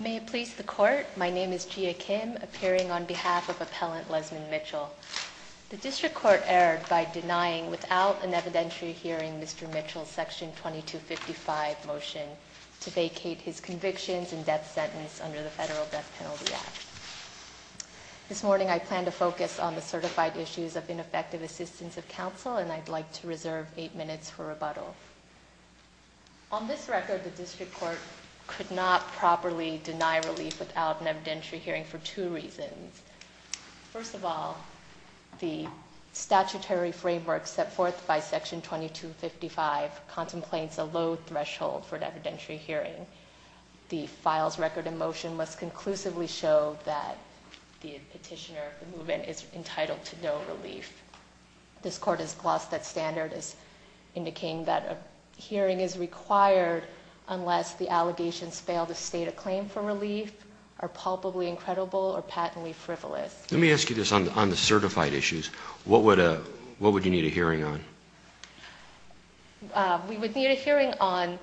May it please the Court, my name is Jia Kim, appearing on behalf of Appellant Lezmond Mitchell. The District Court erred by denying, without an evidentiary hearing, Mr. Mitchell's Section 2255 motion to vacate his convictions and death sentence under the Federal Death Penalty Act. This morning I plan to focus on the certified issues of ineffective assistance of counsel, and I'd like to reserve eight minutes for rebuttal. On this record, the District Court could not properly deny relief without an evidentiary hearing for two reasons. First of all, the statutory framework set forth by Section 2255 contemplates a low threshold for an evidentiary hearing. The files record in motion must conclusively show that the petitioner of the movement is entitled to no relief. This Court has lost that standard as indicating that a hearing is required unless the allegations fail to state a claim for relief are palpably incredible or patently frivolous. Let me ask you this on the certified issues. What would you need a hearing on? We would need a hearing on,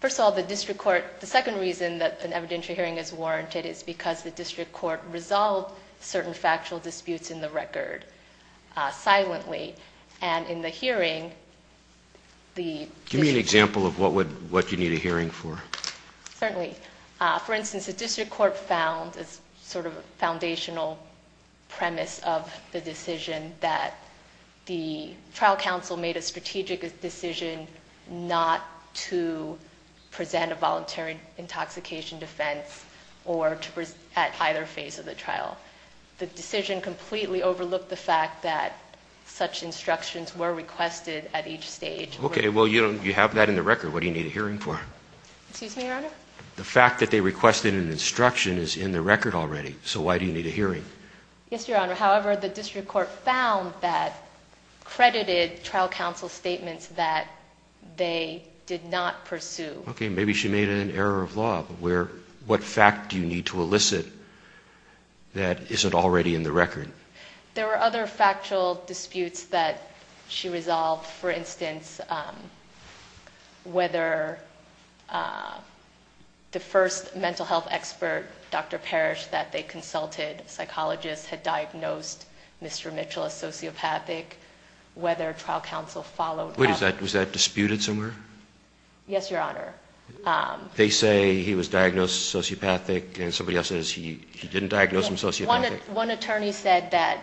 first of all, the District Court. The second reason that an evidentiary hearing is warranted is because the District Court resolved certain factual disputes in the record. Silently. And in the hearing, the... Give me an example of what you need a hearing for. Certainly. For instance, the District Court found, as sort of a foundational premise of the decision, that the trial counsel made a strategic decision not to present a voluntary intoxication defense at either phase of the trial. The decision completely overlooked the fact that such instructions were requested at each stage. Okay. Well, you have that in the record. What do you need a hearing for? Excuse me, Your Honor? The fact that they requested an instruction is in the record already, so why do you need a hearing? Yes, Your Honor. However, the District Court found that credited trial counsel statements that they did not pursue. Okay. Maybe she made an error of law, but what fact do you need to elicit that isn't already in the record? There were other factual disputes that she resolved. For instance, whether the first mental health expert, Dr. Parrish, that they consulted, a psychologist, had diagnosed Mr. Mitchell as sociopathic, whether trial counsel followed up... Wait. Was that disputed somewhere? Yes, Your Honor. They say he was diagnosed sociopathic, and somebody else says he didn't diagnose him sociopathic? One attorney said that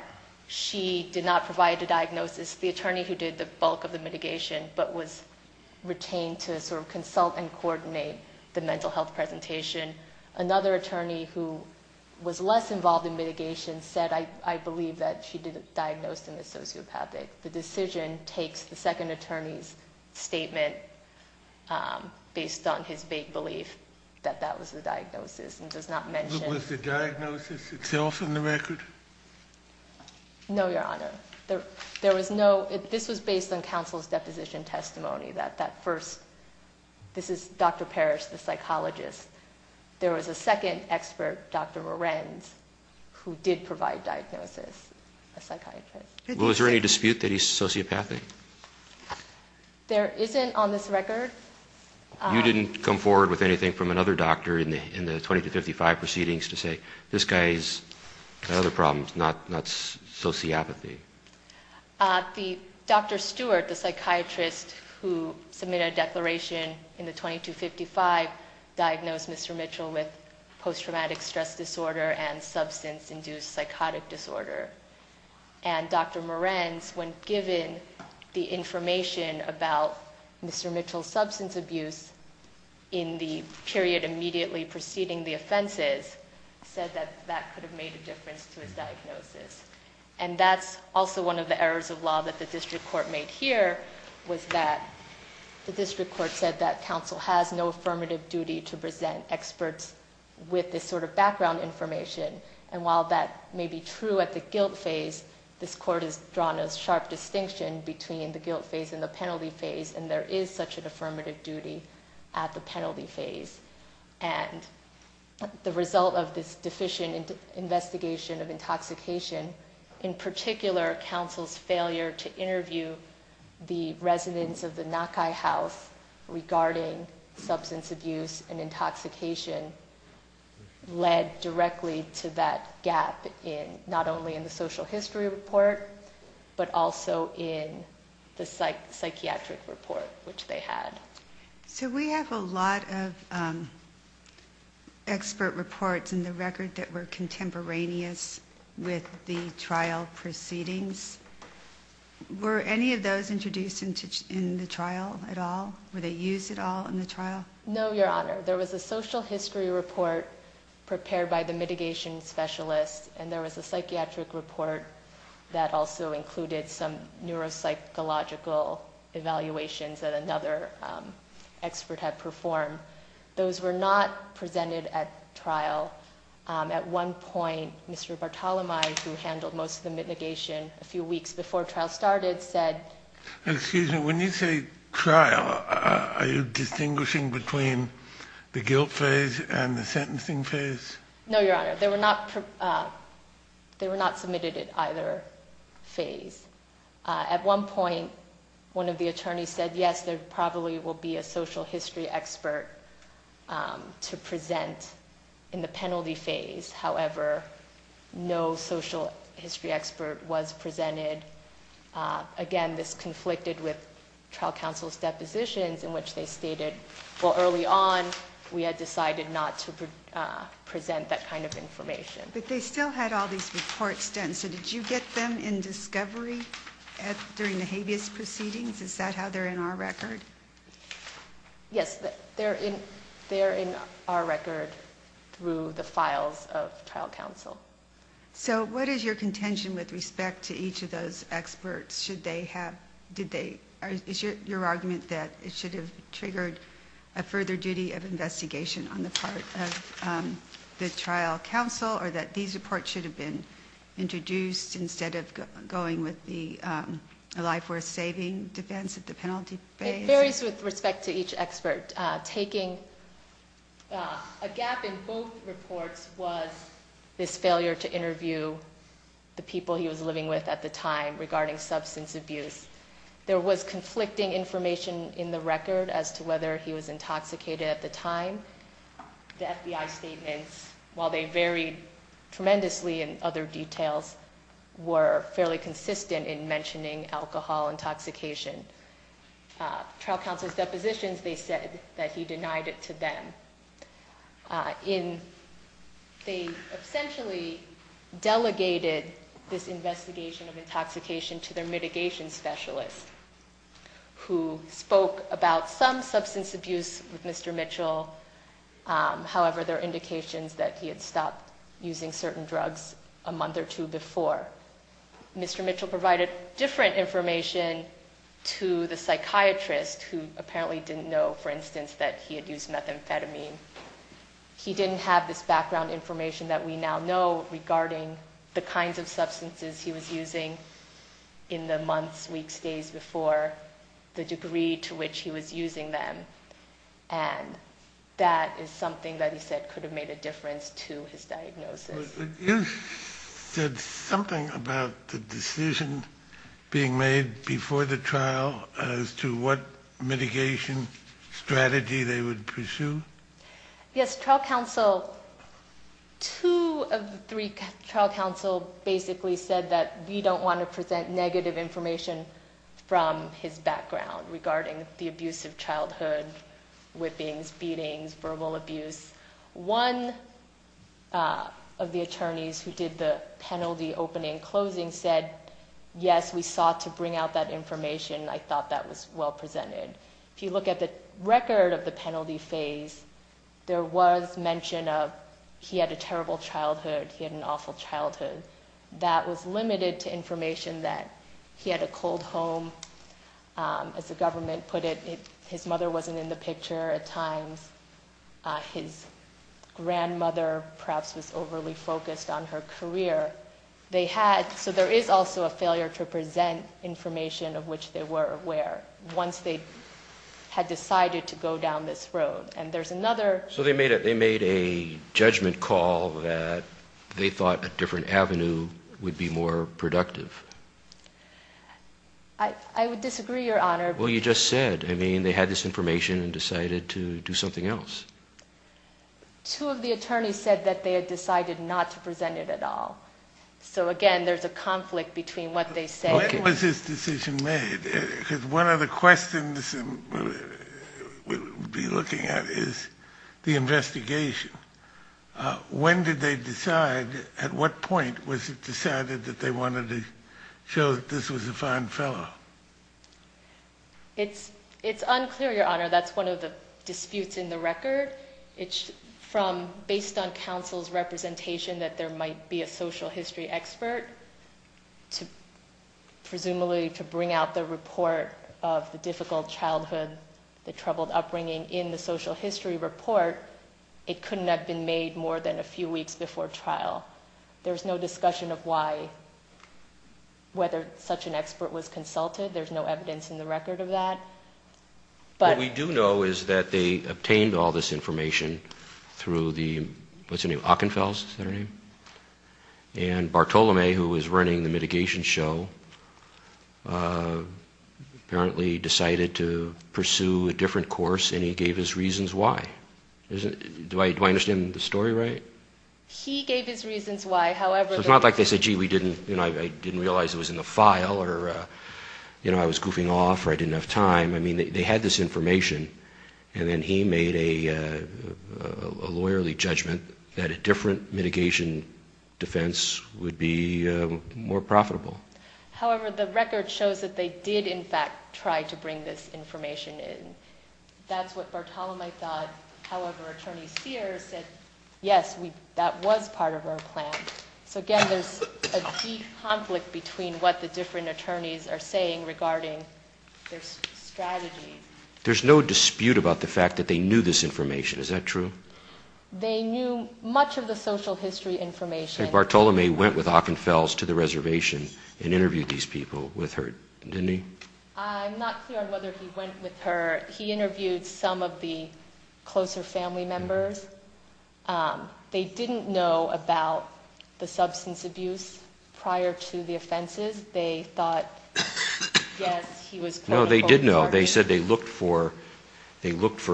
she did not provide a diagnosis. The attorney who did the bulk of the mitigation, but was retained to sort of consult and coordinate the mental health presentation. Another attorney who was less involved in mitigation said, I believe that she didn't diagnose him as sociopathic. The decision takes the second attorney's statement based on his vague belief that that was the diagnosis and does not mention... Was the diagnosis itself in the record? No, Your Honor. There was no... This was based on counsel's deposition testimony, that that first... This is Dr. Parrish, the psychologist. There was a second expert, Dr. Lorenz, who did provide diagnosis, a psychiatrist. Was there any dispute that he's sociopathic? There isn't on this record. You didn't come forward with anything from another doctor in the 2255 proceedings to say, this guy's got other problems, not sociopathy? Dr. Stewart, the psychiatrist who submitted a declaration in the 2255, diagnosed Mr. Mitchell with post-traumatic stress disorder and substance-induced psychotic disorder. And Dr. Morenz, when given the information about Mr. Mitchell's substance abuse in the period immediately preceding the offenses, said that that could have made a difference to his diagnosis. And that's also one of the errors of law that the district court made here, was that the district court said that counsel has no affirmative duty to present experts with this sort of background information. And while that may be true at the guilt phase, this court has drawn a sharp distinction between the guilt phase and the penalty phase, and there is such an affirmative duty at the penalty phase. And the result of this deficient investigation of intoxication, in particular counsel's failure to interview the residents of the Nakai House regarding substance abuse and intoxication, led directly to that gap, not only in the social history report, but also in the psychiatric report, which they had. So we have a lot of expert reports in the record that were contemporaneous with the trial proceedings. Were any of those introduced in the trial at all? Were they used at all in the trial? No, Your Honor. There was a social history report prepared by the mitigation specialist, and there was a psychiatric report that also included some neuropsychological evaluations that another expert had performed. Those were not presented at trial. At one point, Mr. Bartolomé, who handled most of the mitigation a few weeks before trial started, said... the guilt phase and the sentencing phase? No, Your Honor. They were not submitted at either phase. At one point, one of the attorneys said, yes, there probably will be a social history expert to present in the penalty phase. However, no social history expert was presented. Again, this conflicted with trial counsel's depositions, in which they stated, well, early on, we had decided not to present that kind of information. But they still had all these reports done, so did you get them in discovery during the habeas proceedings? Is that how they're in our record? Yes, they're in our record through the files of trial counsel. So what is your contention with respect to each of those experts? Is your argument that it should have triggered a further duty of investigation on the part of the trial counsel, or that these reports should have been introduced instead of going with the life-worth-saving defense at the penalty phase? It varies with respect to each expert. A gap in both reports was this failure to interview the people he was living with at the time regarding substance abuse. There was conflicting information in the record as to whether he was intoxicated at the time. The FBI statements, while they varied tremendously in other details, were fairly consistent in mentioning alcohol intoxication. Trial counsel's depositions, they said that he denied it to them. They essentially delegated this investigation of intoxication to their mitigation specialist, who spoke about some substance abuse with Mr. Mitchell. However, there are indications that he had stopped using certain drugs a month or two before. Mr. Mitchell provided different information to the psychiatrist, who apparently didn't know, for instance, that he had used methamphetamine. He didn't have this background information that we now know regarding the kinds of substances he was using in the months, weeks, days before, the degree to which he was using them. And that is something that he said could have made a difference to his diagnosis. You said something about the decision being made before the trial as to what mitigation strategy they would pursue? Yes, trial counsel, two of the three trial counsel basically said that we don't want to present negative information from his background regarding the abuse of childhood, whippings, beatings, verbal abuse. One of the attorneys who did the penalty opening and closing said, yes, we sought to bring out that information. I thought that was well presented. If you look at the record of the penalty phase, there was mention of he had a terrible childhood, he had an awful childhood. That was limited to information that he had a cold home. As the government put it, his mother wasn't in the picture at times. His grandmother perhaps was overly focused on her career. So there is also a failure to present information of which they were aware once they had decided to go down this road. So they made a judgment call that they thought a different avenue would be more productive. I would disagree, Your Honor. Well, you just said. I mean, they had this information and decided to do something else. Two of the attorneys said that they had decided not to present it at all. So again, there is a conflict between what they said. When was this decision made? Because one of the questions we'll be looking at is the investigation. When did they decide? At what point was it decided that they wanted to show that this was a fine fellow? It's unclear, Your Honor. That's one of the disputes in the record. It's from based on counsel's representation that there might be a social history expert. Presumably to bring out the report of the difficult childhood, the troubled upbringing in the social history report, it couldn't have been made more than a few weeks before trial. There's no discussion of why, whether such an expert was consulted. There's no evidence in the record of that. What we do know is that they obtained all this information through the Ockenfells, is that her name? And Bartolome, who was running the mitigation show, apparently decided to pursue a different course, and he gave his reasons why. Do I understand the story right? He gave his reasons why. It's not like they said, gee, I didn't realize it was in the file, or I was goofing off, or I didn't have time. They had this information, and then he made a lawyerly judgment that a different mitigation defense would be more profitable. However, the record shows that they did, in fact, try to bring this information in. That's what Bartolome thought. However, Attorney Sears said, yes, that was part of our plan. So again, there's a deep conflict between what the different attorneys are saying regarding their strategy. There's no dispute about the fact that they knew this information, is that true? They knew much of the social history information. Bartolome went with Ockenfells to the reservation and interviewed these people with her, didn't he? I'm not clear on whether he went with her. He interviewed some of the closer family members. They didn't know about the substance abuse prior to the offenses. They thought, yes, he was critical. No, they did know. They said they looked for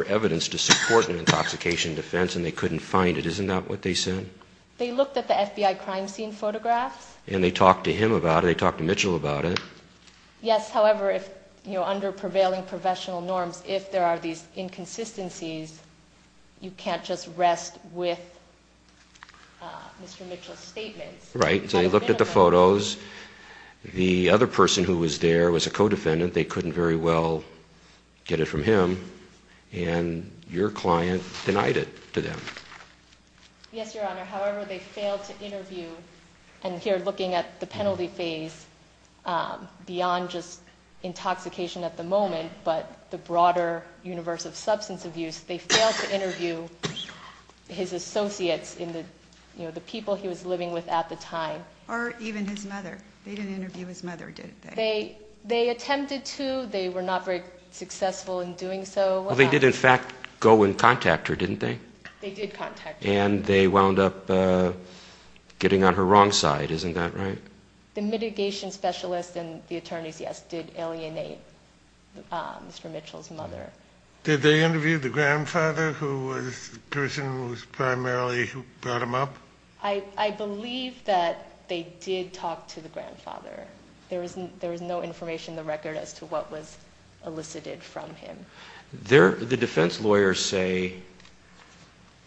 evidence to support an intoxication defense, and they couldn't find it. Isn't that what they said? They looked at the FBI crime scene photographs. And they talked to him about it. They talked to Mitchell about it. Yes, however, under prevailing professional norms, if there are these inconsistencies, you can't just rest with Mr. Mitchell's statements. Right. So they looked at the photos. The other person who was there was a co-defendant. They couldn't very well get it from him. And your client denied it to them. Yes, Your Honor. However, they failed to interview, and here looking at the penalty phase, beyond just intoxication at the moment, but the broader universe of substance abuse, they failed to interview his associates, the people he was living with at the time. Or even his mother. They didn't interview his mother, did they? They attempted to. They were not very successful in doing so. Well, they did, in fact, go and contact her, didn't they? They did contact her. And they wound up getting on her wrong side, isn't that right? The mitigation specialist and the attorneys, yes, did alienate Mr. Mitchell's mother. Did they interview the grandfather, who was the person who primarily brought him up? I believe that they did talk to the grandfather. There was no information in the record as to what was elicited from him. The defense lawyers say,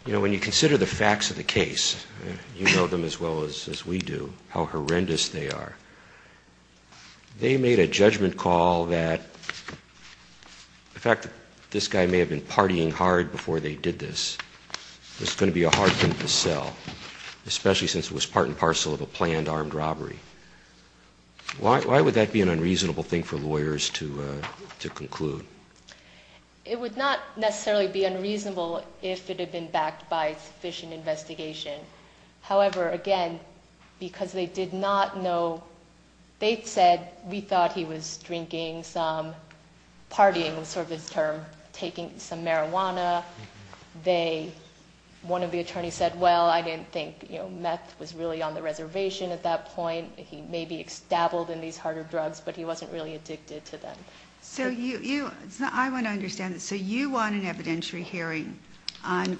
you know, when you consider the facts of the case, you know them as well as we do, how horrendous they are. They made a judgment call that the fact that this guy may have been partying hard before they did this was going to be a hard thing to sell, especially since it was part and parcel of a planned armed robbery. Why would that be an unreasonable thing for lawyers to conclude? It would not necessarily be unreasonable if it had been backed by sufficient investigation. However, again, because they did not know. They said, we thought he was drinking some, partying was sort of his term, taking some marijuana. They, one of the attorneys said, well, I didn't think, you know, meth was really on the reservation at that point. He may be extabled in these harder drugs, but he wasn't really addicted to them. So you, I want to understand this. So you want an evidentiary hearing on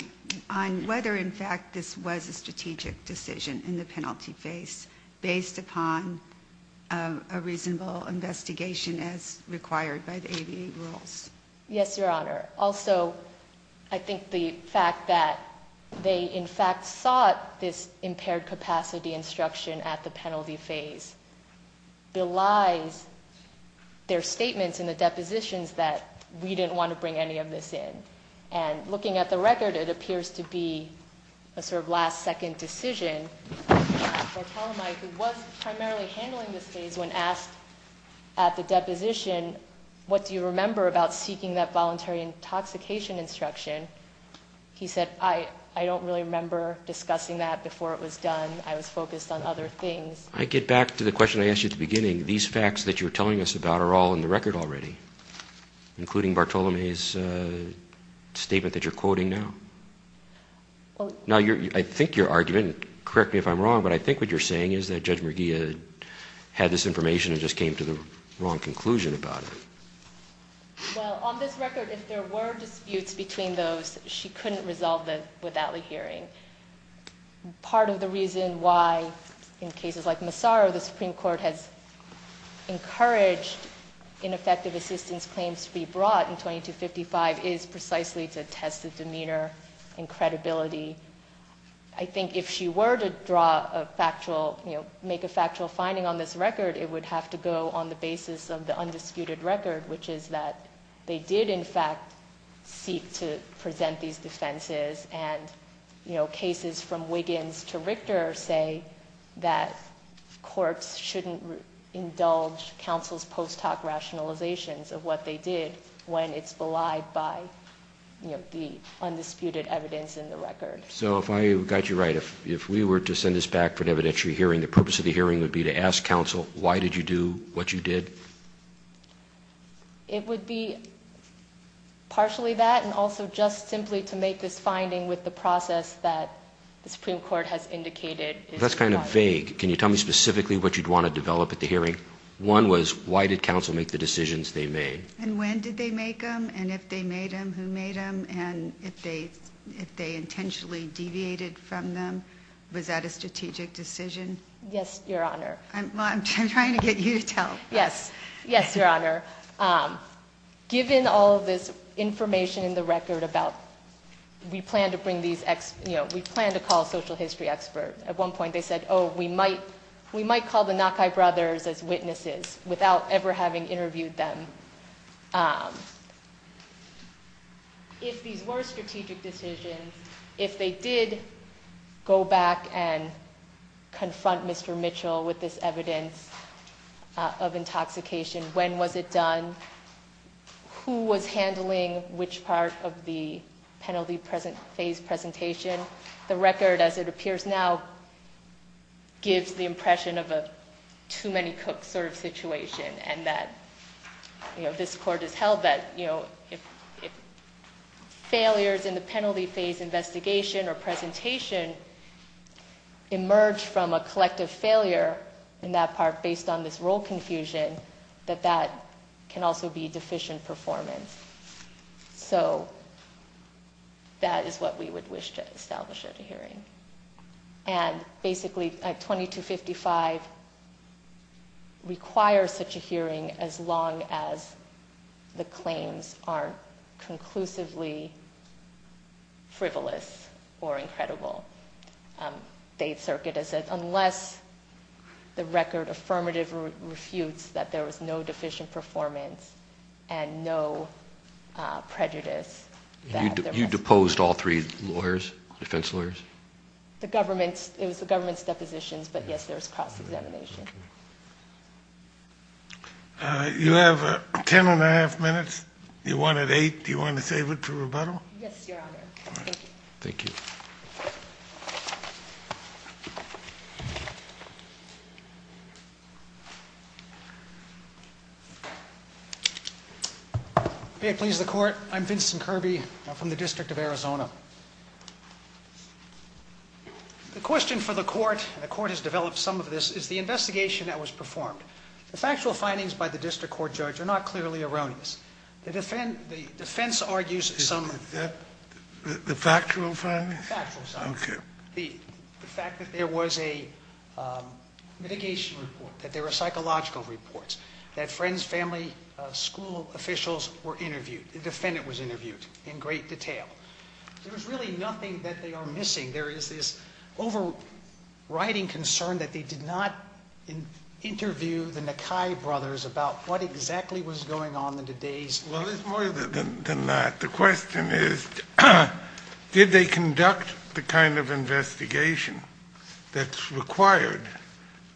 whether, in fact, this was a strategic decision in the penalty face, based upon a reasonable investigation as required by the ADA rules? Yes, Your Honor. Also, I think the fact that they, in fact, sought this impaired capacity instruction at the penalty face, belies their statements in the depositions that we didn't want to bring any of this in. And looking at the record, it appears to be a sort of last second decision. Bartolome, who was primarily handling this case, when asked at the deposition, what do you remember about seeking that voluntary intoxication instruction? He said, I don't really remember discussing that before it was done. I was focused on other things. I get back to the question I asked you at the beginning. These facts that you were telling us about are all in the record already, including Bartolome's statement that you're quoting now. Now, I think your argument, correct me if I'm wrong, but I think what you're saying is that Judge McGee had this information and just came to the wrong conclusion about it. Well, on this record, if there were disputes between those, she couldn't resolve them without a hearing. Part of the reason why, in cases like Massaro, the Supreme Court has encouraged ineffective assistance claims to be brought in 2255 is precisely to test the demeanor and credibility. I think if she were to make a factual finding on this record, it would have to go on the basis of the undisputed record, which is that they did, in fact, seek to present these defenses, and cases from Wiggins to Richter say that courts shouldn't indulge counsel's post hoc rationalizations of what they did when it's belied by the undisputed evidence in the record. So if I got you right, if we were to send this back for an evidentiary hearing, the purpose of the hearing would be to ask counsel why did you do what you did? It would be partially that and also just simply to make this finding with the process that the Supreme Court has indicated. That's kind of vague. Can you tell me specifically what you'd want to develop at the hearing? One was, why did counsel make the decisions they made? And when did they make them? And if they made them, who made them? And if they intentionally deviated from them, was that a strategic decision? Yes, Your Honor. I'm trying to get you to tell them. Yes. Yes, Your Honor. Given all of this information in the record about we plan to call a social history expert, at one point they said, oh, we might call the Nakai brothers as witnesses without ever having interviewed them. If these were strategic decisions, if they did go back and confront Mr. Mitchell with this evidence of intoxication, when was it done? Who was handling which part of the penalty phase presentation? The record, as it appears now, gives the impression of a too-many-cooks sort of situation, and that this Court has held that, you know, if failures in the penalty phase investigation or presentation emerge from a collective failure in that part based on this role confusion, that that can also be deficient performance. So that is what we would wish to establish at a hearing. And basically, 2255 requires such a hearing as long as the claims aren't conclusively frivolous or incredible. The Eighth Circuit has said unless the record affirmatively refutes that there was no deficient performance and no prejudice. You deposed all three lawyers, defense lawyers? It was the government's depositions, but, yes, there was cross-examination. You have ten and a half minutes. You wanted eight. Do you want to save it for rebuttal? Yes, Your Honor. Thank you. Thank you. May it please the Court. I'm Vincent Kirby. I'm from the District of Arizona. The question for the Court, and the Court has developed some of this, is the investigation that was performed. The factual findings by the District Court judge are not clearly erroneous. The defense argues some of that. The factual findings? The factual findings. Okay. The fact that there was a mitigation report, that there were psychological reports, that friends, family, school officials were interviewed. The defendant was interviewed in great detail. There is really nothing that they are missing. There is this overriding concern that they did not interview the Nakai brothers about what exactly was going on in today's law. Well, there's more than that. The question is, did they conduct the kind of investigation that's required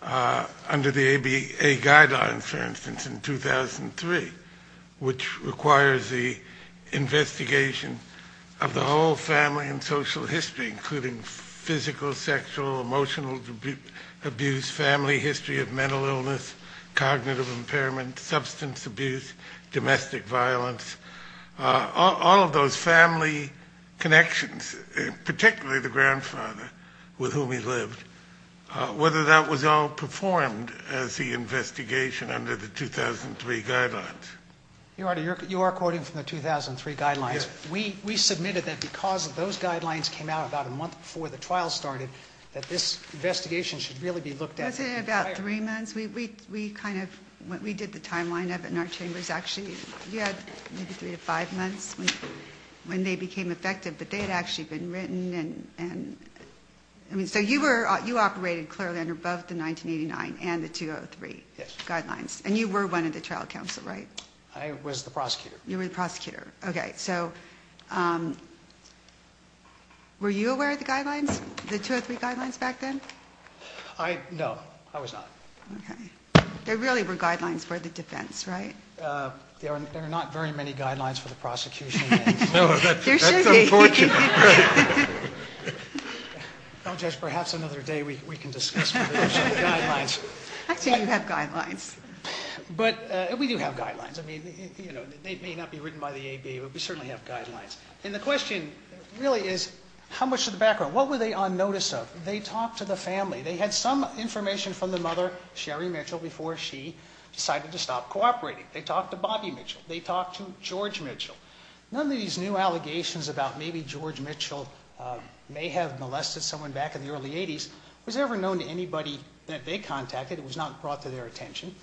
under the ABA guidelines, for instance, in 2003, which requires the investigation of the whole family and social history, including physical, sexual, emotional abuse, family history of mental illness, cognitive impairment, substance abuse, domestic violence, all of those family connections, particularly the grandfather with whom he lived, whether that was all performed as the investigation under the 2003 guidelines. Your Honor, you are quoting from the 2003 guidelines. Yes. We submitted that because those guidelines came out about a month before the trial started, that this investigation should really be looked at. Wasn't it about three months? We kind of, we did the timeline of it in our chambers, actually. You had maybe three to five months when they became effective, but they had actually been written. So you were, you operated clearly under both the 1989 and the 2003 guidelines. Yes. And you were one of the trial counsel, right? I was the prosecutor. You were the prosecutor. Okay, so were you aware of the guidelines, the 2003 guidelines back then? I, no, I was not. Okay. There really were guidelines for the defense, right? There are not very many guidelines for the prosecution. There should be. That's unfortunate. Well, Judge, perhaps another day we can discuss the guidelines. Actually, you have guidelines. But we do have guidelines. I mean, you know, they may not be written by the ABA, but we certainly have guidelines. And the question really is how much of the background, what were they on notice of? They talked to the family. They had some information from the mother, Sherry Mitchell, before she decided to stop cooperating. They talked to Bobby Mitchell. They talked to George Mitchell. None of these new allegations about maybe George Mitchell may have molested someone back in the early 80s was ever known to anybody that they contacted. It was not brought to their attention.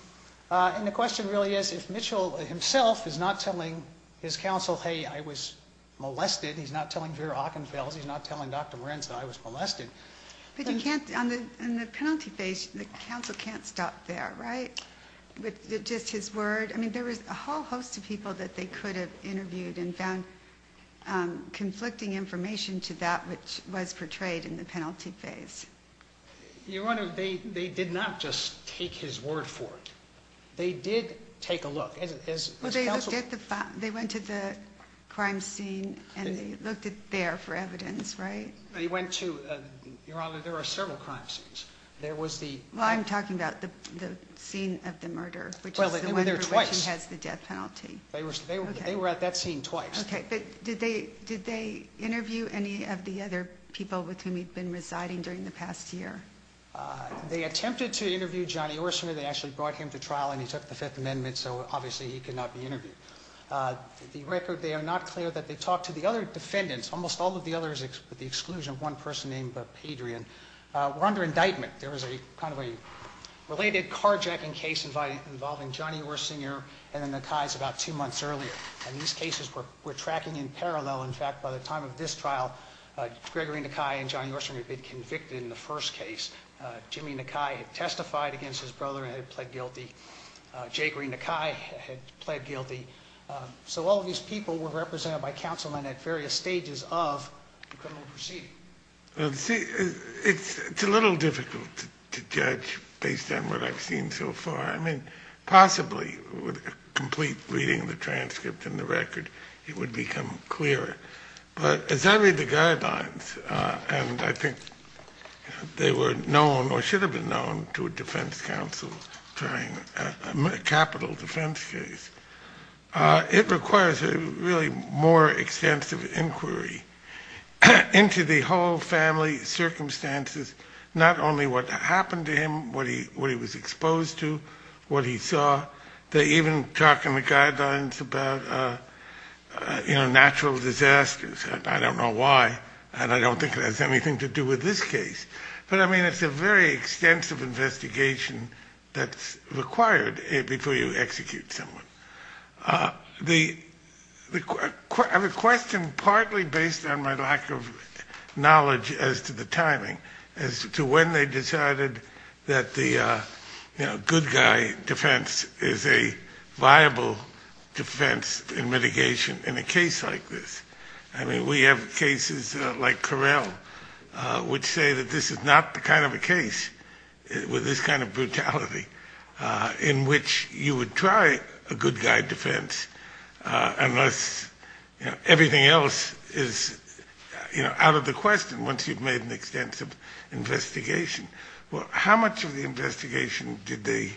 And the question really is if Mitchell himself is not telling his counsel, hey, I was molested, he's not telling Vera Ockenfels, he's not telling Dr. Morenz that I was molested. But you can't, in the penalty phase, the counsel can't stop there, right? Just his word. I mean, there was a whole host of people that they could have interviewed and found conflicting information to that which was portrayed in the penalty phase. Your Honor, they did not just take his word for it. They did take a look. They went to the crime scene and they looked there for evidence, right? They went to, Your Honor, there are several crime scenes. Well, I'm talking about the scene of the murder, which is the one for which he has the death penalty. They were at that scene twice. Okay, but did they interview any of the other people with whom he'd been residing during the past year? They attempted to interview Johnny Orsner. They actually brought him to trial and he took the Fifth Amendment, so obviously he could not be interviewed. The record, they are not clear that they talked to the other defendants, almost all of the others with the exclusion of one person named Padrian. We're under indictment. There was a kind of a related carjacking case involving Johnny Orsner and the Nakais about two months earlier. And these cases were tracking in parallel. In fact, by the time of this trial, Gregory Nakai and Johnny Orsner had been convicted in the first case. Jimmy Nakai had testified against his brother and had pled guilty. Jay Green Nakai had pled guilty. So all of these people were represented by counsel and at various stages of the criminal proceeding. It's a little difficult to judge based on what I've seen so far. I mean, possibly with a complete reading of the transcript and the record, it would become clearer. But as I read the guidelines, and I think they were known or should have been known to a defense counsel trying a capital defense case, it requires a really more extensive inquiry into the whole family circumstances, not only what happened to him, what he was exposed to, what he saw. They even talk in the guidelines about, you know, natural disasters. I don't know why, and I don't think it has anything to do with this case. But, I mean, it's a very extensive investigation that's required before you execute someone. The question partly based on my lack of knowledge as to the timing, as to when they decided that the, you know, good guy defense is a viable defense in mitigation in a case like this. I mean, we have cases like Correll which say that this is not the kind of a case with this kind of brutality in which you would try a good guy defense unless, you know, everything else is, you know, out of the question once you've made an extensive investigation. Well, how much of the investigation did they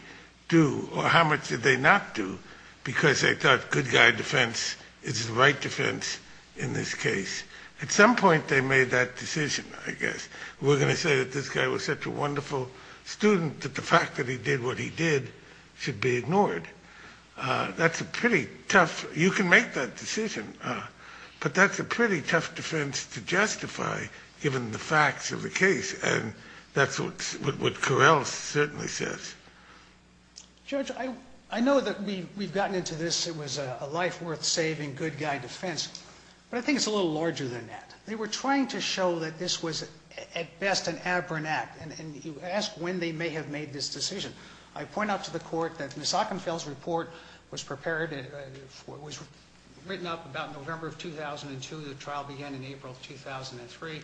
do, or how much did they not do, because they thought good guy defense is the right defense in this case? At some point they made that decision, I guess. We're going to say that this guy was such a wonderful student that the fact that he did what he did should be ignored. That's a pretty tough, you can make that decision, but that's a pretty tough defense to justify, given the facts of the case, and that's what Correll certainly says. Judge, I know that we've gotten into this, it was a life worth saving good guy defense, but I think it's a little larger than that. They were trying to show that this was at best an aberrant act, and you ask when they may have made this decision. I point out to the court that Ms. Ockenfield's report was prepared, it was written up about November of 2002, the trial began in April of 2003.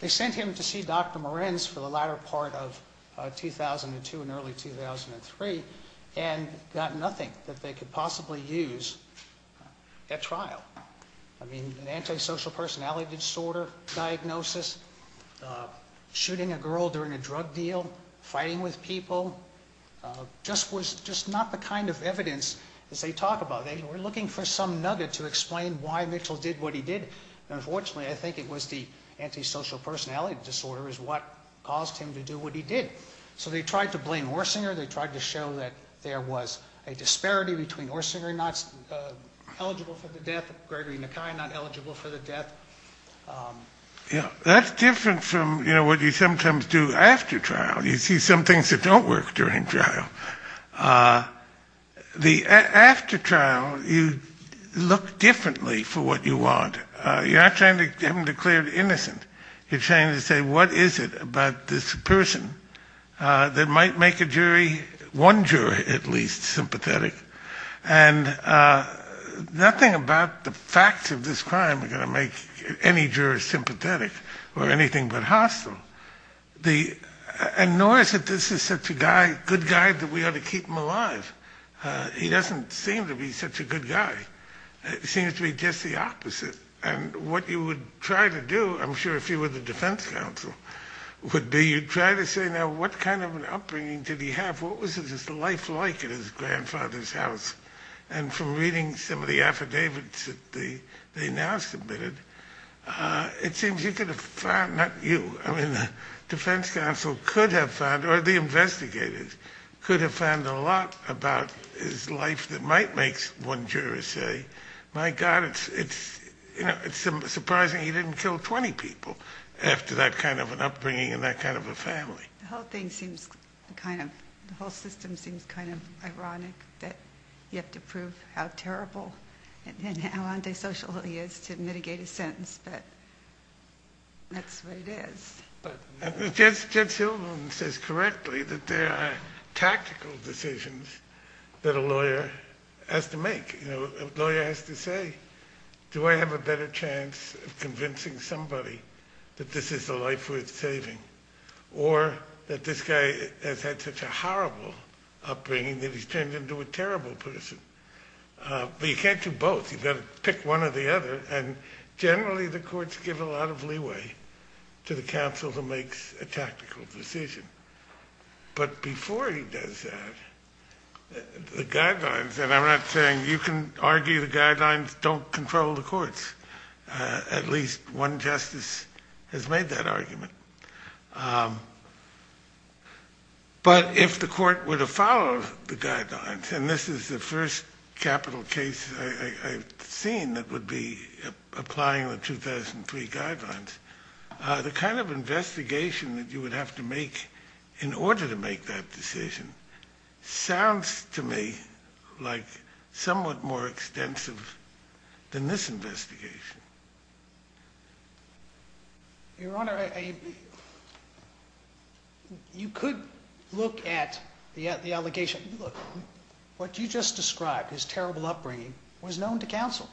They sent him to see Dr. Morenz for the latter part of 2002 and early 2003, and got nothing that they could possibly use at trial. I mean, an antisocial personality disorder diagnosis, shooting a girl during a drug deal, fighting with people, just not the kind of evidence that they talk about. They were looking for some nugget to explain why Mitchell did what he did, and unfortunately I think it was the antisocial personality disorder is what caused him to do what he did. So they tried to blame Orsinger, they tried to show that there was a disparity between Orsinger not eligible for the death, Gregory McKay not eligible for the death. Yeah, that's different from, you know, what you sometimes do after trial. You see some things that don't work during trial. The after trial, you look differently for what you want. You're not trying to have him declared innocent. You're trying to say what is it about this person that might make a jury, one jury at least, sympathetic. And nothing about the facts of this crime are going to make any juror sympathetic or anything but hostile. And nor is it this is such a good guy that we ought to keep him alive. He doesn't seem to be such a good guy. It seems to be just the opposite. And what you would try to do, I'm sure if you were the defense counsel, would be you'd try to say now what kind of an upbringing did he have? What was his life like at his grandfather's house? And from reading some of the affidavits that they now submitted, it seems you could have found, not you, I mean the defense counsel could have found, or the investigators could have found a lot about his life that might make one juror say, my God, it's surprising he didn't kill 20 people after that kind of an upbringing and that kind of a family. The whole thing seems kind of, the whole system seems kind of ironic that you have to prove how terrible and how antisocial he is to mitigate a sentence. But that's what it is. But Jed Silverman says correctly that there are tactical decisions that a lawyer has to make. A lawyer has to say, do I have a better chance of convincing somebody that this is a life worth saving? Or that this guy has had such a horrible upbringing that he's turned into a terrible person? But you can't do both. You've got to pick one or the other. And generally the courts give a lot of leeway to the counsel who makes a tactical decision. But before he does that, the guidelines, and I'm not saying you can argue the guidelines don't control the courts. At least one justice has made that argument. But if the court were to follow the guidelines, and this is the first capital case I've seen that would be applying the 2003 guidelines, the kind of investigation that you would have to make in order to make that decision sounds to me like somewhat more extensive than this investigation. Your Honor, you could look at the allegation. Look, what you just described, his terrible upbringing, was known to counsel.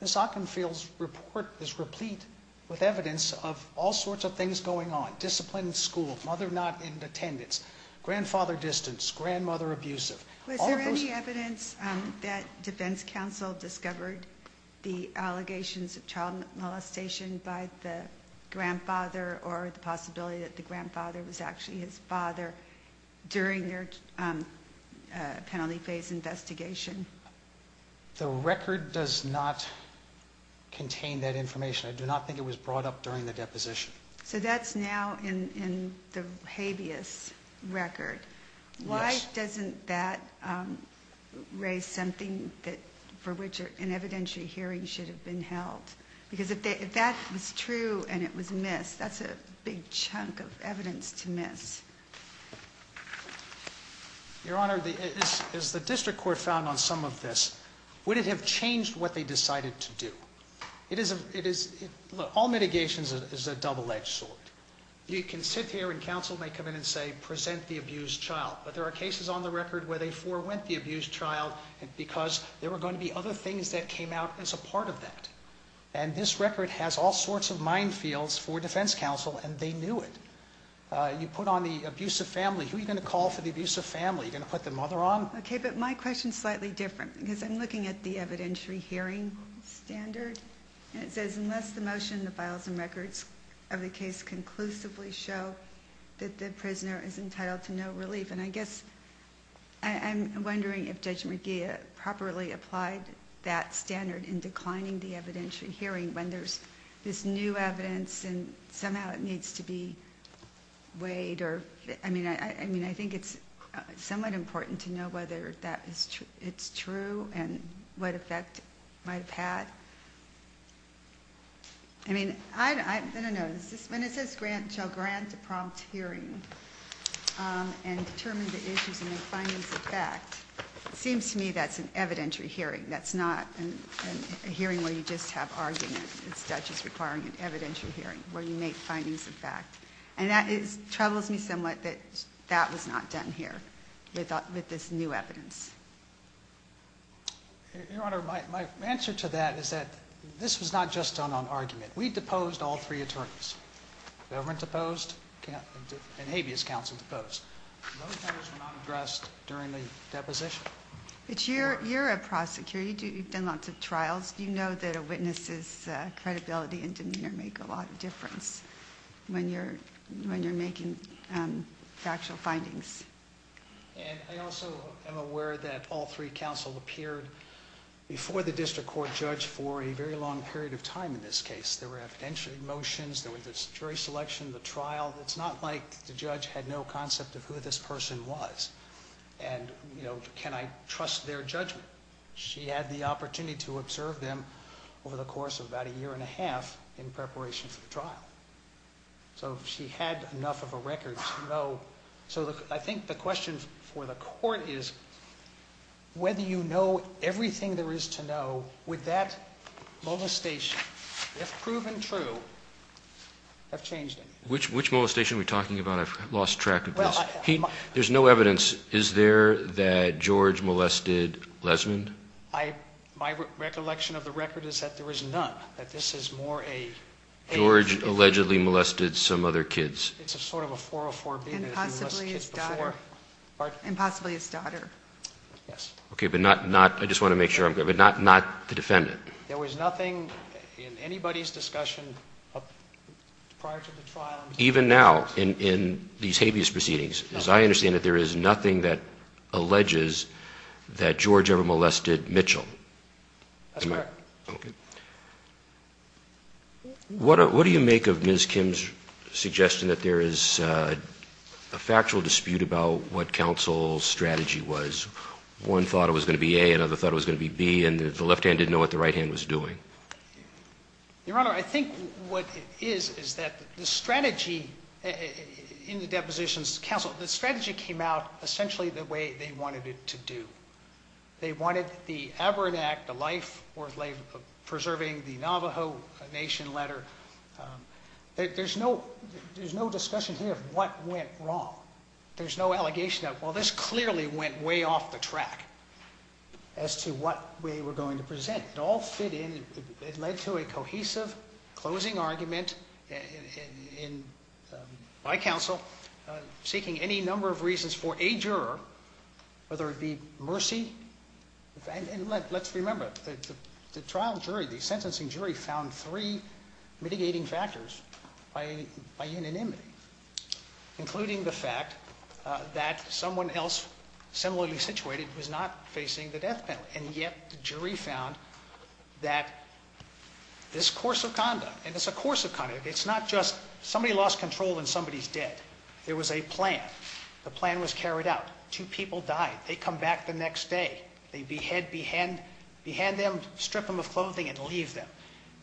Ms. Ockenfield's report is replete with evidence of all sorts of things going on. Discipline in school, mother not in attendance, grandfather distance, grandmother abusive. Was there any evidence that defense counsel discovered the allegations of child molestation by the grandfather or the possibility that the grandfather was actually his father during their penalty phase investigation? The record does not contain that information. I do not think it was brought up during the deposition. So that's now in the habeas record. Why doesn't that raise something for which an evidentiary hearing should have been held? Because if that was true and it was missed, that's a big chunk of evidence to miss. Your Honor, as the district court found on some of this, would it have changed what they decided to do? Look, all mitigation is a double-edged sword. You can sit here and counsel may come in and say, present the abused child. But there are cases on the record where they forewent the abused child because there were going to be other things that came out as a part of that. And this record has all sorts of minefields for defense counsel and they knew it. You put on the abusive family, who are you going to call for the abusive family? Are you going to put the mother on? Okay, but my question is slightly different because I'm looking at the evidentiary hearing standard. And it says, unless the motion, the files and records of the case conclusively show that the prisoner is entitled to no relief. And I guess I'm wondering if Judge McGeeh properly applied that standard in declining the evidentiary hearing when there's this new evidence and somehow it needs to be weighed. I mean, I think it's somewhat important to know whether it's true and what effect it might have had. I mean, I don't know. When it says shall grant a prompt hearing and determine the issues and make findings of fact, it seems to me that's an evidentiary hearing. That's not a hearing where you just have arguments. It's not just requiring an evidentiary hearing where you make findings of fact. And that troubles me somewhat that that was not done here with this new evidence. Your Honor, my answer to that is that this was not just done on argument. We deposed all three attorneys. The government deposed and habeas counsel deposed. Those matters were not addressed during the deposition. But you're a prosecutor. You've done lots of trials. You know that a witness's credibility and demeanor make a lot of difference when you're making factual findings. And I also am aware that all three counsel appeared before the district court judge for a very long period of time in this case. There were evidentiary motions. There was this jury selection, the trial. It's not like the judge had no concept of who this person was and, you know, can I trust their judgment. She had the opportunity to observe them over the course of about a year and a half in preparation for the trial. So she had enough of a record to know. So I think the question for the court is whether you know everything there is to know, would that molestation, if proven true, have changed anything? Which molestation are we talking about? I've lost track of this. There's no evidence. Is there that George molested Lesmond? My recollection of the record is that there is none, that this is more a... George allegedly molested some other kids. It's sort of a 404 being that he molested kids before. And possibly his daughter. Pardon? And possibly his daughter. Yes. Okay, but not, I just want to make sure I'm clear, but not the defendant. There was nothing in anybody's discussion prior to the trial... Is there anything that alleges that George ever molested Mitchell? That's correct. Okay. What do you make of Ms. Kim's suggestion that there is a factual dispute about what counsel's strategy was? One thought it was going to be A, another thought it was going to be B, and the left-hand didn't know what the right-hand was doing? Your Honor, I think what it is, is that the strategy in the depositions to counsel, the strategy came out essentially the way they wanted it to do. They wanted the Aberrant Act, the life worth preserving, the Navajo Nation letter. There's no discussion here of what went wrong. There's no allegation that, well, this clearly went way off the track as to what way we're going to present. It all fit in. It led to a cohesive closing argument by counsel seeking any number of reasons for a juror, whether it be mercy. And let's remember, the trial jury, the sentencing jury, found three mitigating factors by unanimity, including the fact that someone else similarly situated was not facing the death penalty. And yet the jury found that this course of conduct, and it's a course of conduct. It's not just somebody lost control and somebody's dead. There was a plan. The plan was carried out. Two people died. They come back the next day. They behead them, strip them of clothing, and leave them.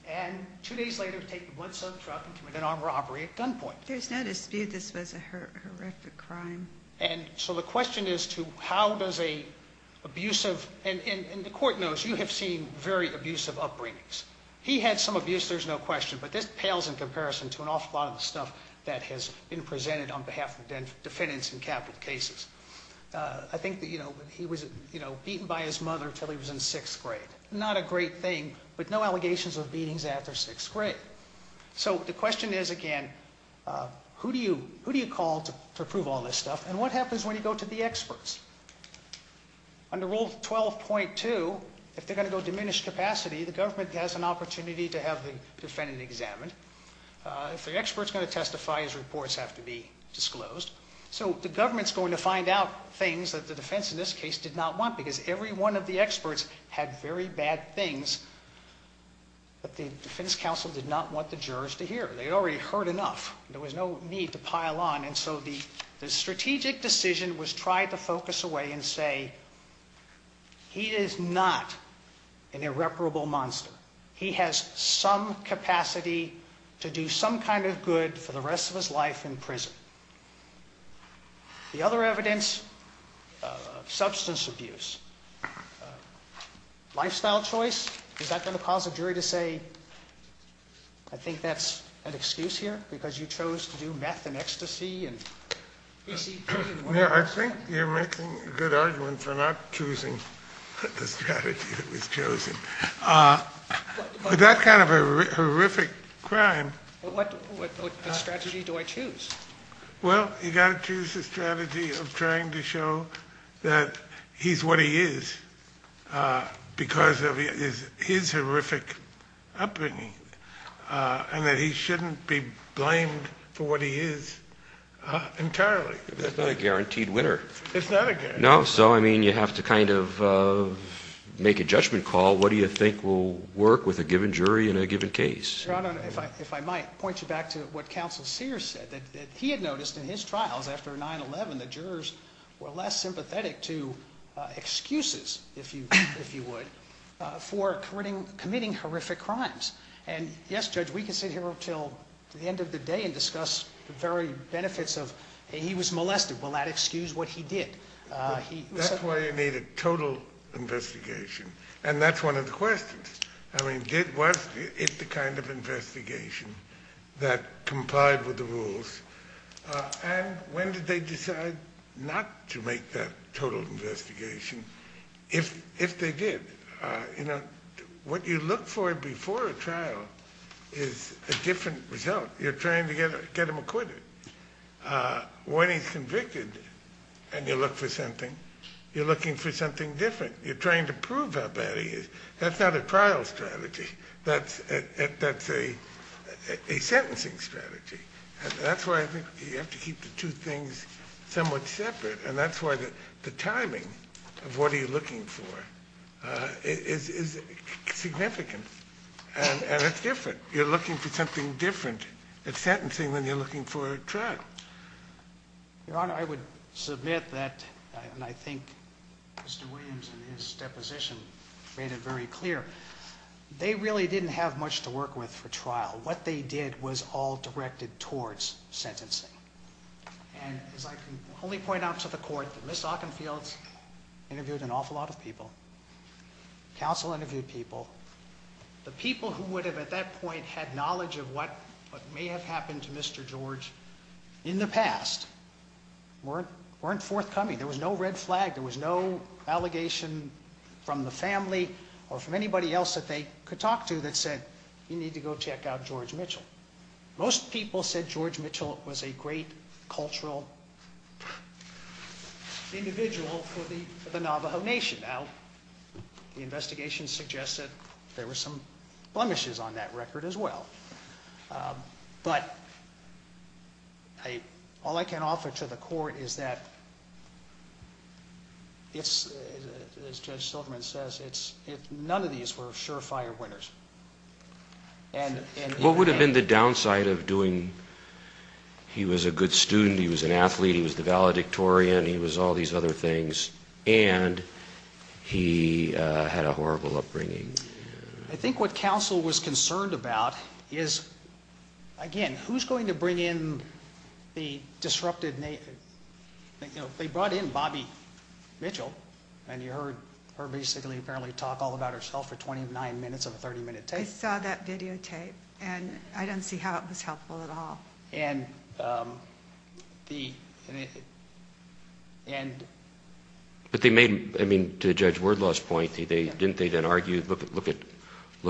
And two days later, take the blood-soaked truck and commit an armed robbery at gunpoint. There's no dispute this was a horrific crime. And so the question is to how does an abusive, and the court knows you have seen very abusive upbringings. He had some abuse, there's no question. But this pales in comparison to an awful lot of the stuff that has been presented on behalf of defendants in capital cases. I think that he was beaten by his mother until he was in sixth grade. Not a great thing, but no allegations of beatings after sixth grade. So the question is, again, who do you call to prove all this stuff, and what happens when you go to the experts? Under Rule 12.2, if they're going to go diminished capacity, the government has an opportunity to have the defendant examined. If the expert's going to testify, his reports have to be disclosed. So the government's going to find out things that the defense in this case did not want, because every one of the experts had very bad things that the defense counsel did not want the jurors to hear. They already heard enough. There was no need to pile on. And so the strategic decision was tried to focus away and say, he is not an irreparable monster. He has some capacity to do some kind of good for the rest of his life in prison. The other evidence, substance abuse. Lifestyle choice. Is that going to cause a jury to say, I think that's an excuse here, because you chose to do meth and ecstasy? I think you're making a good argument for not choosing the strategy that was chosen. That kind of a horrific crime. What strategy do I choose? Well, you've got to choose a strategy of trying to show that he's what he is, because of his horrific upbringing, and that he shouldn't be blamed for what he is entirely. It's not a guaranteed winner. It's not a guaranteed winner. No, so, I mean, you have to kind of make a judgment call. What do you think will work with a given jury in a given case? Your Honor, if I might, point you back to what Counsel Sears said, that he had noticed in his trials after 9-11 that jurors were less sympathetic to excuses, if you would, for committing horrific crimes. And, yes, Judge, we could sit here until the end of the day and discuss the very benefits of, he was molested, will that excuse what he did? That's why you need a total investigation. And that's one of the questions. I mean, was it the kind of investigation that complied with the rules? And when did they decide not to make that total investigation, if they did? You know, what you look for before a trial is a different result. You're trying to get him acquitted. When he's convicted and you look for something, you're looking for something different. You're trying to prove how bad he is. That's not a trial strategy. That's a sentencing strategy. And that's why I think you have to keep the two things somewhat separate. And that's why the timing of what you're looking for is significant. And it's different. You're looking for something different at sentencing than you're looking for at trial. Your Honor, I would submit that, and I think Mr. Williams in his deposition made it very clear, they really didn't have much to work with for trial. What they did was all directed towards sentencing. And as I can only point out to the Court, Ms. Ockenfield interviewed an awful lot of people. Counsel interviewed people. The people who would have at that point had knowledge of what may have happened to Mr. George in the past weren't forthcoming. There was no red flag. There was no allegation from the family or from anybody else that they could talk to that said, you need to go check out George Mitchell. Most people said George Mitchell was a great cultural individual for the Navajo Nation. Now, the investigation suggests that there were some blemishes on that record as well. But all I can offer to the Court is that, as Judge Silverman says, none of these were sure-fire winners. What would have been the downside of doing? He was a good student. He was an athlete. He was the valedictorian. He was all these other things. And he had a horrible upbringing. I think what counsel was concerned about is, again, who's going to bring in the disrupted Native? They brought in Bobbie Mitchell, and you heard her basically apparently talk all about herself for 29 minutes of a 30-minute tape. I saw that videotape, and I don't see how it was helpful at all. But they made, I mean, to Judge Wordlaw's point, didn't they then argue, look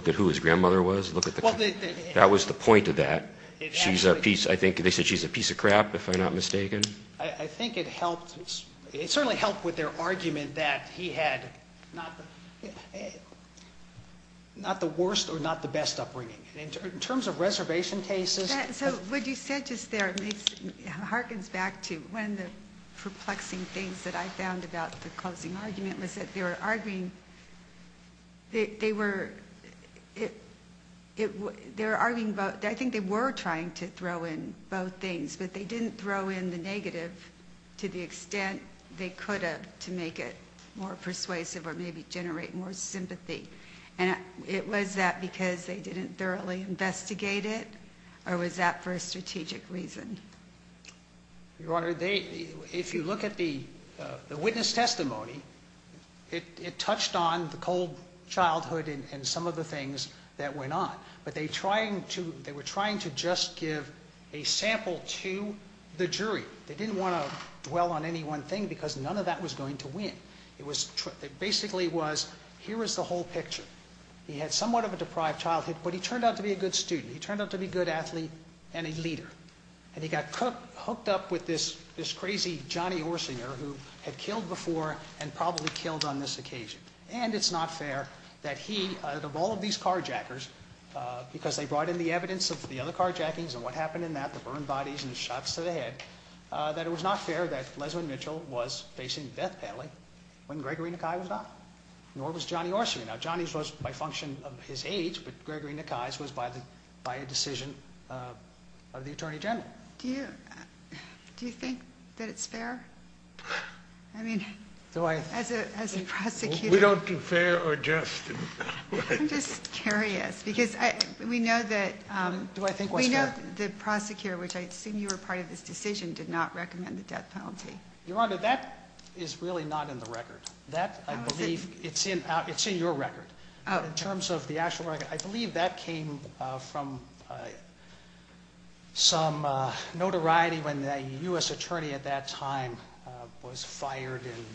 at who his grandmother was? That was the point of that. She's a piece, I think they said she's a piece of crap, if I'm not mistaken. I think it helped. It certainly helped with their argument that he had not the worst or not the best upbringing. In terms of reservation cases. So what you said just there harkens back to one of the perplexing things that I found about the closing argument was that they were arguing, they were, they were arguing about, I think they were trying to throw in both things, but they didn't throw in the negative to the extent they could have to make it more persuasive or maybe generate more sympathy. And it was that because they didn't thoroughly investigate it, or was that for a strategic reason? Your Honor, if you look at the witness testimony, it touched on the cold childhood and some of the things that went on. But they were trying to just give a sample to the jury. They didn't want to dwell on any one thing because none of that was going to win. It basically was, here is the whole picture. He had somewhat of a deprived childhood, but he turned out to be a good student. He turned out to be a good athlete and a leader. And he got hooked up with this crazy Johnny Orsinger who had killed before and probably killed on this occasion. And it's not fair that he, of all of these carjackers, because they brought in the evidence of the other carjackings and what happened in that, the burned bodies and the shots to the head, that it was not fair that Lesmond Mitchell was facing death penalty when Gregory Nakai was not. Nor was Johnny Orsinger. Now, Johnny's was by function of his age, but Gregory Nakai's was by a decision of the Attorney General. Do you think that it's fair? I mean, as a prosecutor. We don't do fair or just. I'm just curious because we know that the prosecutor, which I assume you were part of this decision, did not recommend the death penalty. Your Honor, that is really not in the record. That, I believe, it's in your record. In terms of the actual record, I believe that came from some notoriety when a U.S. attorney at that time was fired and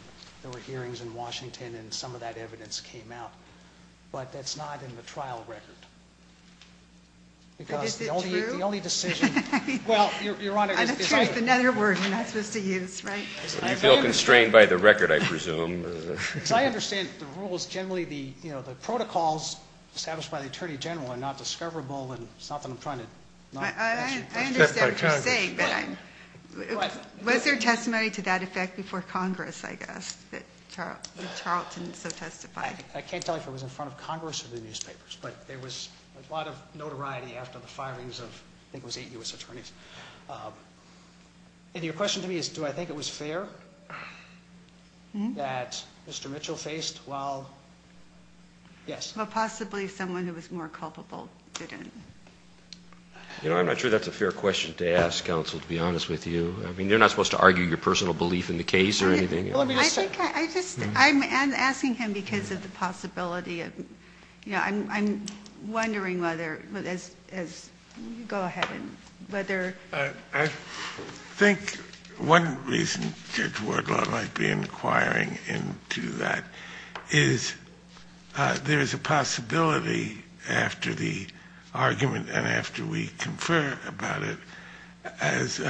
there were hearings in Washington and some of that evidence came out. But that's not in the trial record. But is it true? Because the only decision, well, Your Honor. I'm afraid it's another word you're not supposed to use, right? You feel constrained by the record, I presume. Because I understand the rules generally, you know, the protocols established by the Attorney General are not discoverable and it's not that I'm trying to. I understand what you're saying, but was there testimony to that effect before Congress, I guess, that Charlton so testified? I can't tell you if it was in front of Congress or the newspapers, but there was a lot of notoriety after the firings of I think it was eight U.S. attorneys. And your question to me is do I think it was fair that Mr. Mitchell faced while, yes. Well, possibly someone who was more culpable didn't. You know, I'm not sure that's a fair question to ask, counsel, to be honest with you. I mean, you're not supposed to argue your personal belief in the case or anything. Let me just say. I think I just, I'm asking him because of the possibility of, you know, I'm wondering whether as you go ahead and whether. I think one reason Judge Wardlaw might be inquiring into that is there is a possibility after the argument and after we confer about it as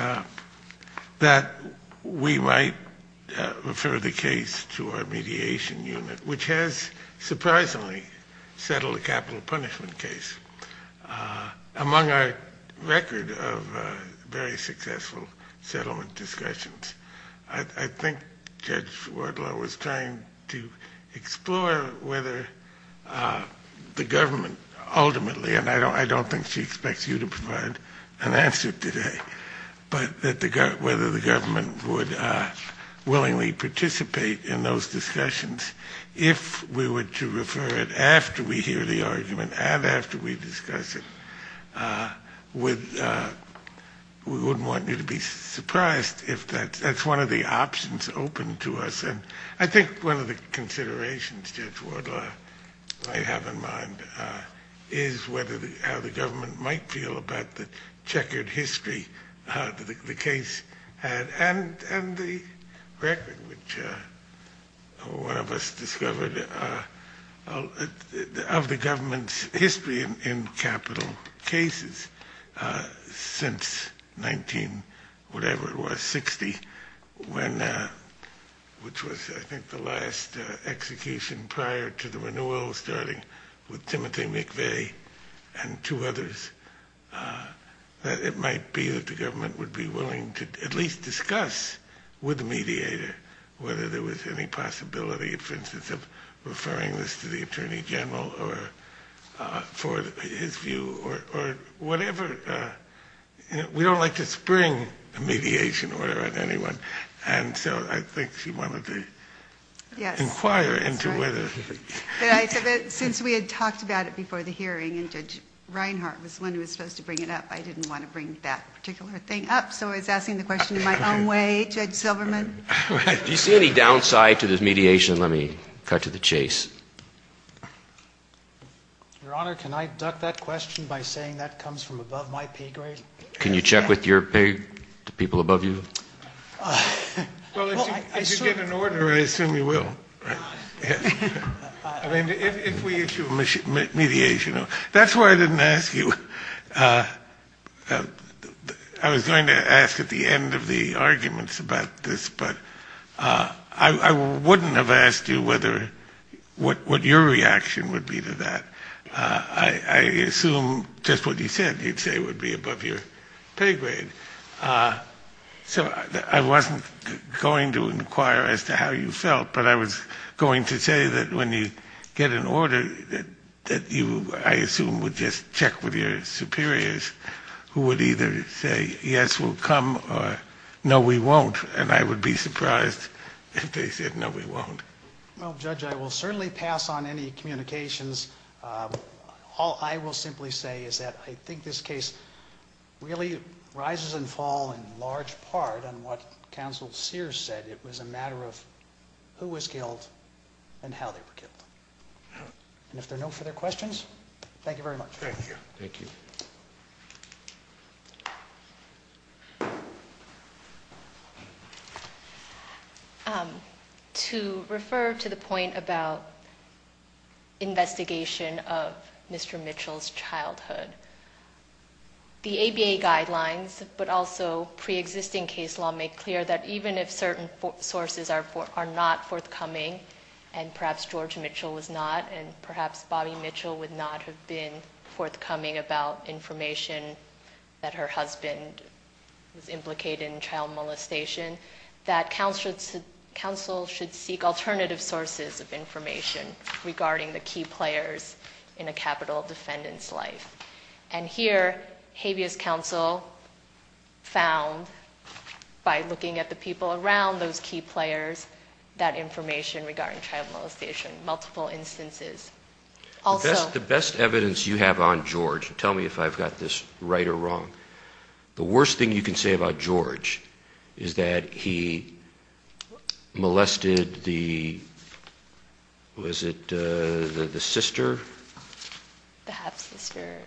that we might refer the case to our mediation unit, which has surprisingly settled a capital punishment case among our record of very successful settlement discussions. I think Judge Wardlaw was trying to explore whether the government ultimately, and I don't think she expects you to provide an answer today, but whether the government would willingly participate in those discussions. If we were to refer it after we hear the argument and after we discuss it, we wouldn't want you to be surprised if that's one of the options open to us. And I think one of the considerations Judge Wardlaw might have in mind is whether, how the government might feel about the checkered history the case had, and the record which one of us discovered of the government's history in capital cases since 19-whatever it was-60, which was I think the last execution prior to the renewal starting with Timothy McVeigh and two others, that it might be that the government would be willing to at least discuss with the mediator whether there was any possibility, for instance, of referring this to the Attorney General for his view or whatever. We don't like to spring a mediation order on anyone. And so I think she wanted to inquire into whether- Since we had talked about it before the hearing and Judge Reinhart was the one who was supposed to bring it up, I didn't want to bring that particular thing up, so I was asking the question in my own way, Judge Silverman. Do you see any downside to this mediation? Let me cut to the chase. Your Honor, can I duck that question by saying that comes from above my pay grade? Can you check with the people above you? Well, if you get an order, I assume you will. I mean, if we issue a mediation order. That's why I didn't ask you. I was going to ask at the end of the arguments about this, but I wouldn't have asked you what your reaction would be to that. I assume just what you said, you'd say would be above your pay grade. So I wasn't going to inquire as to how you felt, but I was going to say that when you get an order, that you, I assume, would just check with your superiors, who would either say yes, we'll come, or no, we won't, and I would be surprised if they said no, we won't. Well, Judge, I will certainly pass on any communications. All I will simply say is that I think this case really rises and falls in large part on what Counsel Sears said. It was a matter of who was killed and how they were killed. And if there are no further questions, thank you very much. Thank you. To refer to the point about investigation of Mr. Mitchell's childhood, the ABA guidelines, but also pre-existing case law, make clear that even if certain sources are not forthcoming, and perhaps George Mitchell was not, and perhaps Bobby Mitchell would not have been forthcoming about information that her husband was implicated in child molestation, that counsel should seek alternative sources of information regarding the key players in a capital defendant's life. And here habeas counsel found, by looking at the people around those key players, that information regarding child molestation, multiple instances. The best evidence you have on George, tell me if I've got this right or wrong, the worst thing you can say about George is that he molested the, was it the sister? The half-sister.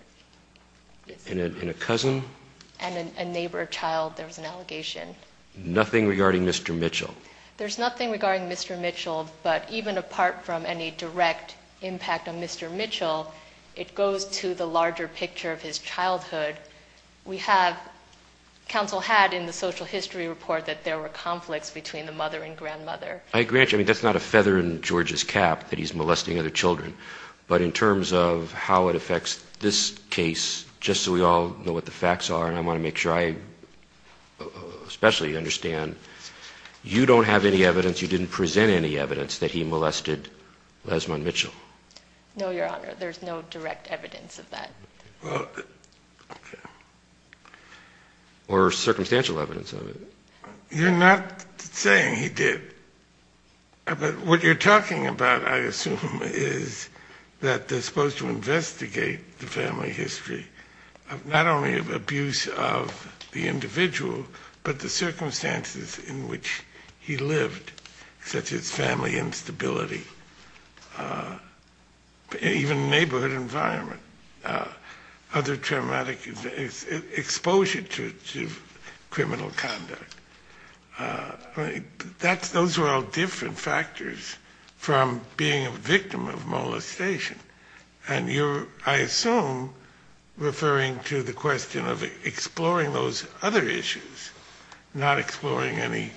And a cousin? And a neighbor child, there was an allegation. Nothing regarding Mr. Mitchell? There's nothing regarding Mr. Mitchell, but even apart from any direct impact on Mr. Mitchell, it goes to the larger picture of his childhood. We have, counsel had in the social history report that there were conflicts between the mother and grandmother. I agree, that's not a feather in George's cap that he's molesting other children, but in terms of how it affects this case, just so we all know what the facts are, and I want to make sure I especially understand, you don't have any evidence, you didn't present any evidence that he molested Lesmond Mitchell? No, Your Honor, there's no direct evidence of that. Well, okay. Or circumstantial evidence of it? You're not saying he did. But what you're talking about, I assume, is that they're supposed to investigate the family history of not only abuse of the individual, but the circumstances in which he lived, such as family instability, even neighborhood environment, other traumatic exposure to criminal conduct. Those are all different factors from being a victim of molestation. And you're, I assume, referring to the question of exploring those other issues, not exploring any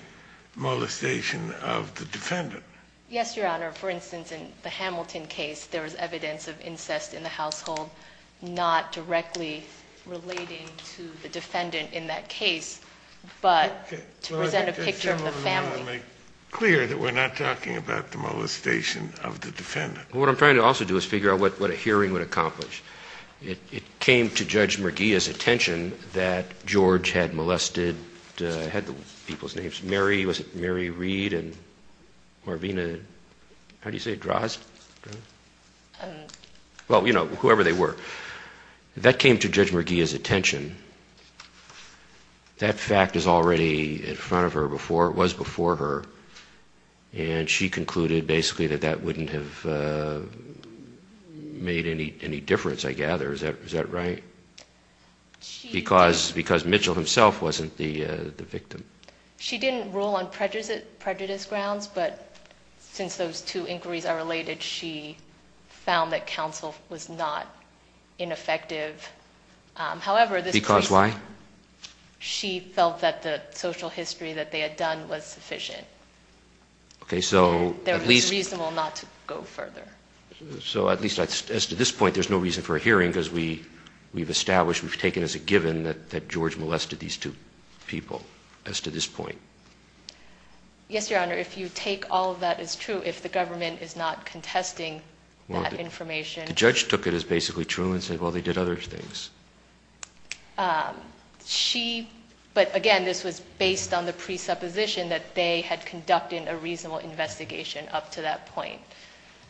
molestation of the defendant. Yes, Your Honor. For instance, in the Hamilton case, there was evidence of incest in the household, not directly relating to the defendant in that case, but to present a picture of the family. Let me make clear that we're not talking about the molestation of the defendant. Well, what I'm trying to also do is figure out what a hearing would accomplish. It came to Judge Merguia's attention that George had molested, had the people's names, Mary, was it Mary Reed and Marvina, how do you say it, Drozd? Well, you know, whoever they were. That came to Judge Merguia's attention. That fact is already in front of her before, was before her, and she concluded basically that that wouldn't have made any difference, I gather. Is that right? Because Mitchell himself wasn't the victim. She didn't rule on prejudice grounds, but since those two inquiries are related, she found that counsel was not ineffective. Because why? She felt that the social history that they had done was sufficient. Okay. So at least. It was reasonable not to go further. So at least as to this point, there's no reason for a hearing because we've established, we've taken as a given that George molested these two people as to this point. Yes, Your Honor. If you take all of that as true, if the government is not contesting that information. The judge took it as basically true and said, well, they did other things. She, but again, this was based on the presupposition that they had conducted a reasonable investigation up to that point.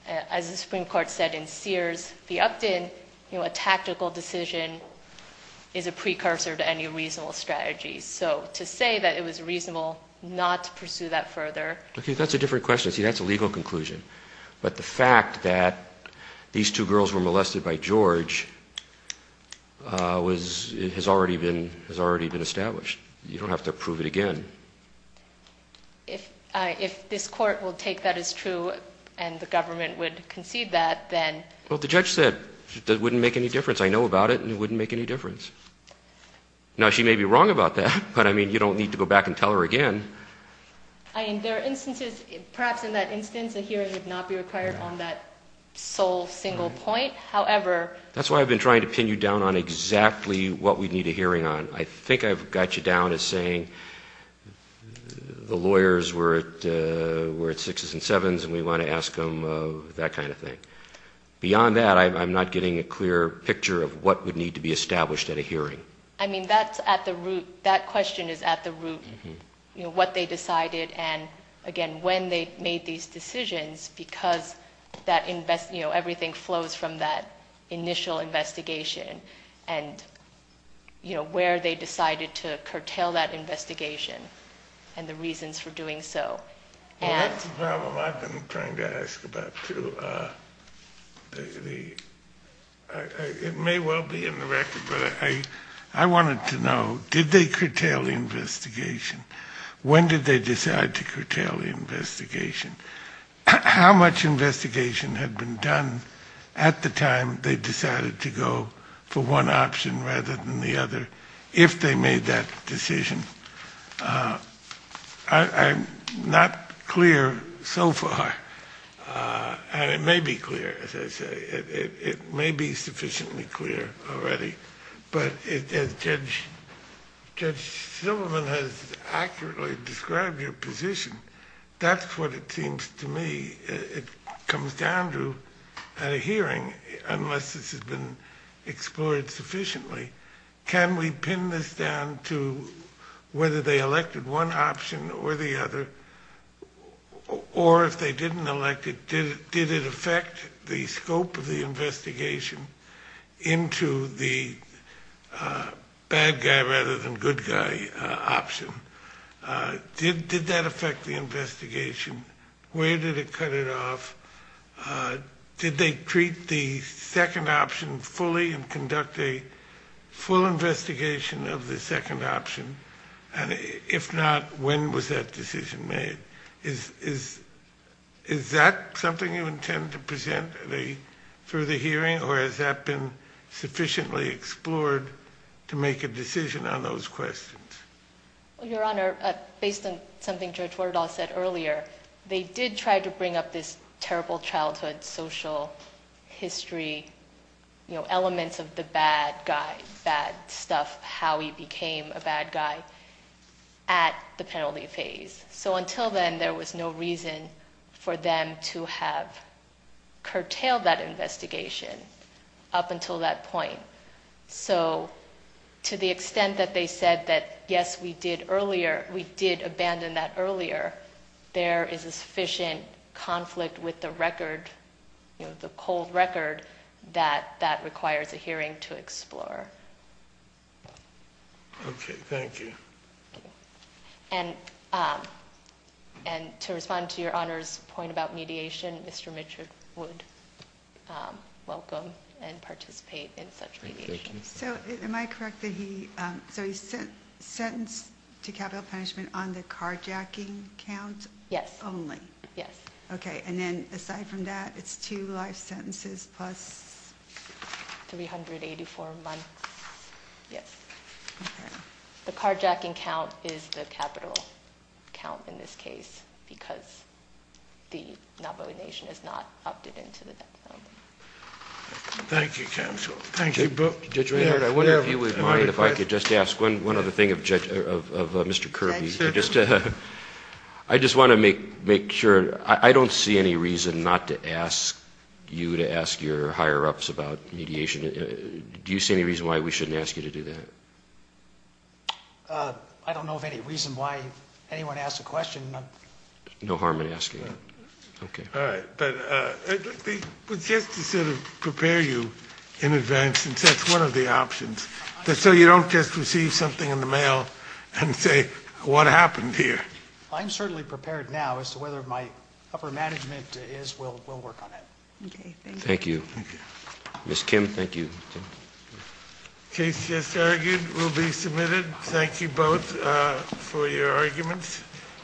As the Supreme Court said in Sears v. Upton, you know, a tactical decision is a precursor to any reasonable strategy. So to say that it was reasonable not to pursue that further. Okay, that's a different question. See, that's a legal conclusion. But the fact that these two girls were molested by George has already been established. You don't have to prove it again. If this court will take that as true and the government would concede that, then. Well, the judge said it wouldn't make any difference. I know about it and it wouldn't make any difference. Now, she may be wrong about that, but, I mean, you don't need to go back and tell her again. I mean, there are instances, perhaps in that instance, a hearing would not be required on that sole single point. However. That's why I've been trying to pin you down on exactly what we'd need a hearing on. I think I've got you down as saying the lawyers were at sixes and sevens and we want to ask them that kind of thing. Beyond that, I'm not getting a clear picture of what would need to be established at a hearing. I mean, that's at the root. That question is at the root. What they decided and, again, when they made these decisions because everything flows from that initial investigation. And where they decided to curtail that investigation and the reasons for doing so. That's the problem I've been trying to ask about, too. It may well be in the record, but I wanted to know, did they curtail the investigation? When did they decide to curtail the investigation? How much investigation had been done at the time they decided to go for one option rather than the other, if they made that decision? I'm not clear so far. And it may be clear, as I say. It may be sufficiently clear already. But as Judge Silverman has accurately described your position, that's what it seems to me it comes down to at a hearing unless this has been explored sufficiently. Can we pin this down to whether they elected one option or the other? Or if they didn't elect it, did it affect the scope of the investigation into the bad guy rather than good guy option? Did that affect the investigation? Where did it cut it off? Did they treat the second option fully and conduct a full investigation of the second option? And if not, when was that decision made? Is that something you intend to present at a further hearing? Or has that been sufficiently explored to make a decision on those questions? Your Honor, based on something Judge Werdahl said earlier, they did try to bring up this terrible childhood social history, elements of the bad guy, bad stuff, how he became a bad guy at the penalty phase. So until then, there was no reason for them to have curtailed that investigation up until that point. So to the extent that they said that, yes, we did abandon that earlier, there is a sufficient conflict with the record, the cold record, that that requires a hearing to explore. Okay, thank you. And to respond to Your Honor's point about mediation, Mr. Mitchell would welcome and participate in such mediation. So am I correct that he, so he's sentenced to capital punishment on the carjacking count? Yes. Only? Yes. Okay, and then aside from that, it's two life sentences plus? 384 months, yes. Okay. The carjacking count is the capital count in this case because the Navajo Nation has not opted into the death penalty. Thank you, counsel. Thank you. Judge Reynard, I wonder if you would mind if I could just ask one other thing of Mr. Kirby. I just want to make sure, I don't see any reason not to ask you to ask your higher-ups about mediation. Do you see any reason why we shouldn't ask you to do that? I don't know of any reason why anyone asks a question. No harm in asking. Okay. All right, but just to sort of prepare you in advance since that's one of the options, so you don't just receive something in the mail and say, what happened here? I'm certainly prepared now as to whether my upper management is, we'll work on it. Okay, thank you. Thank you. Ms. Kim, thank you. The case just argued will be submitted. Thank you both for your arguments.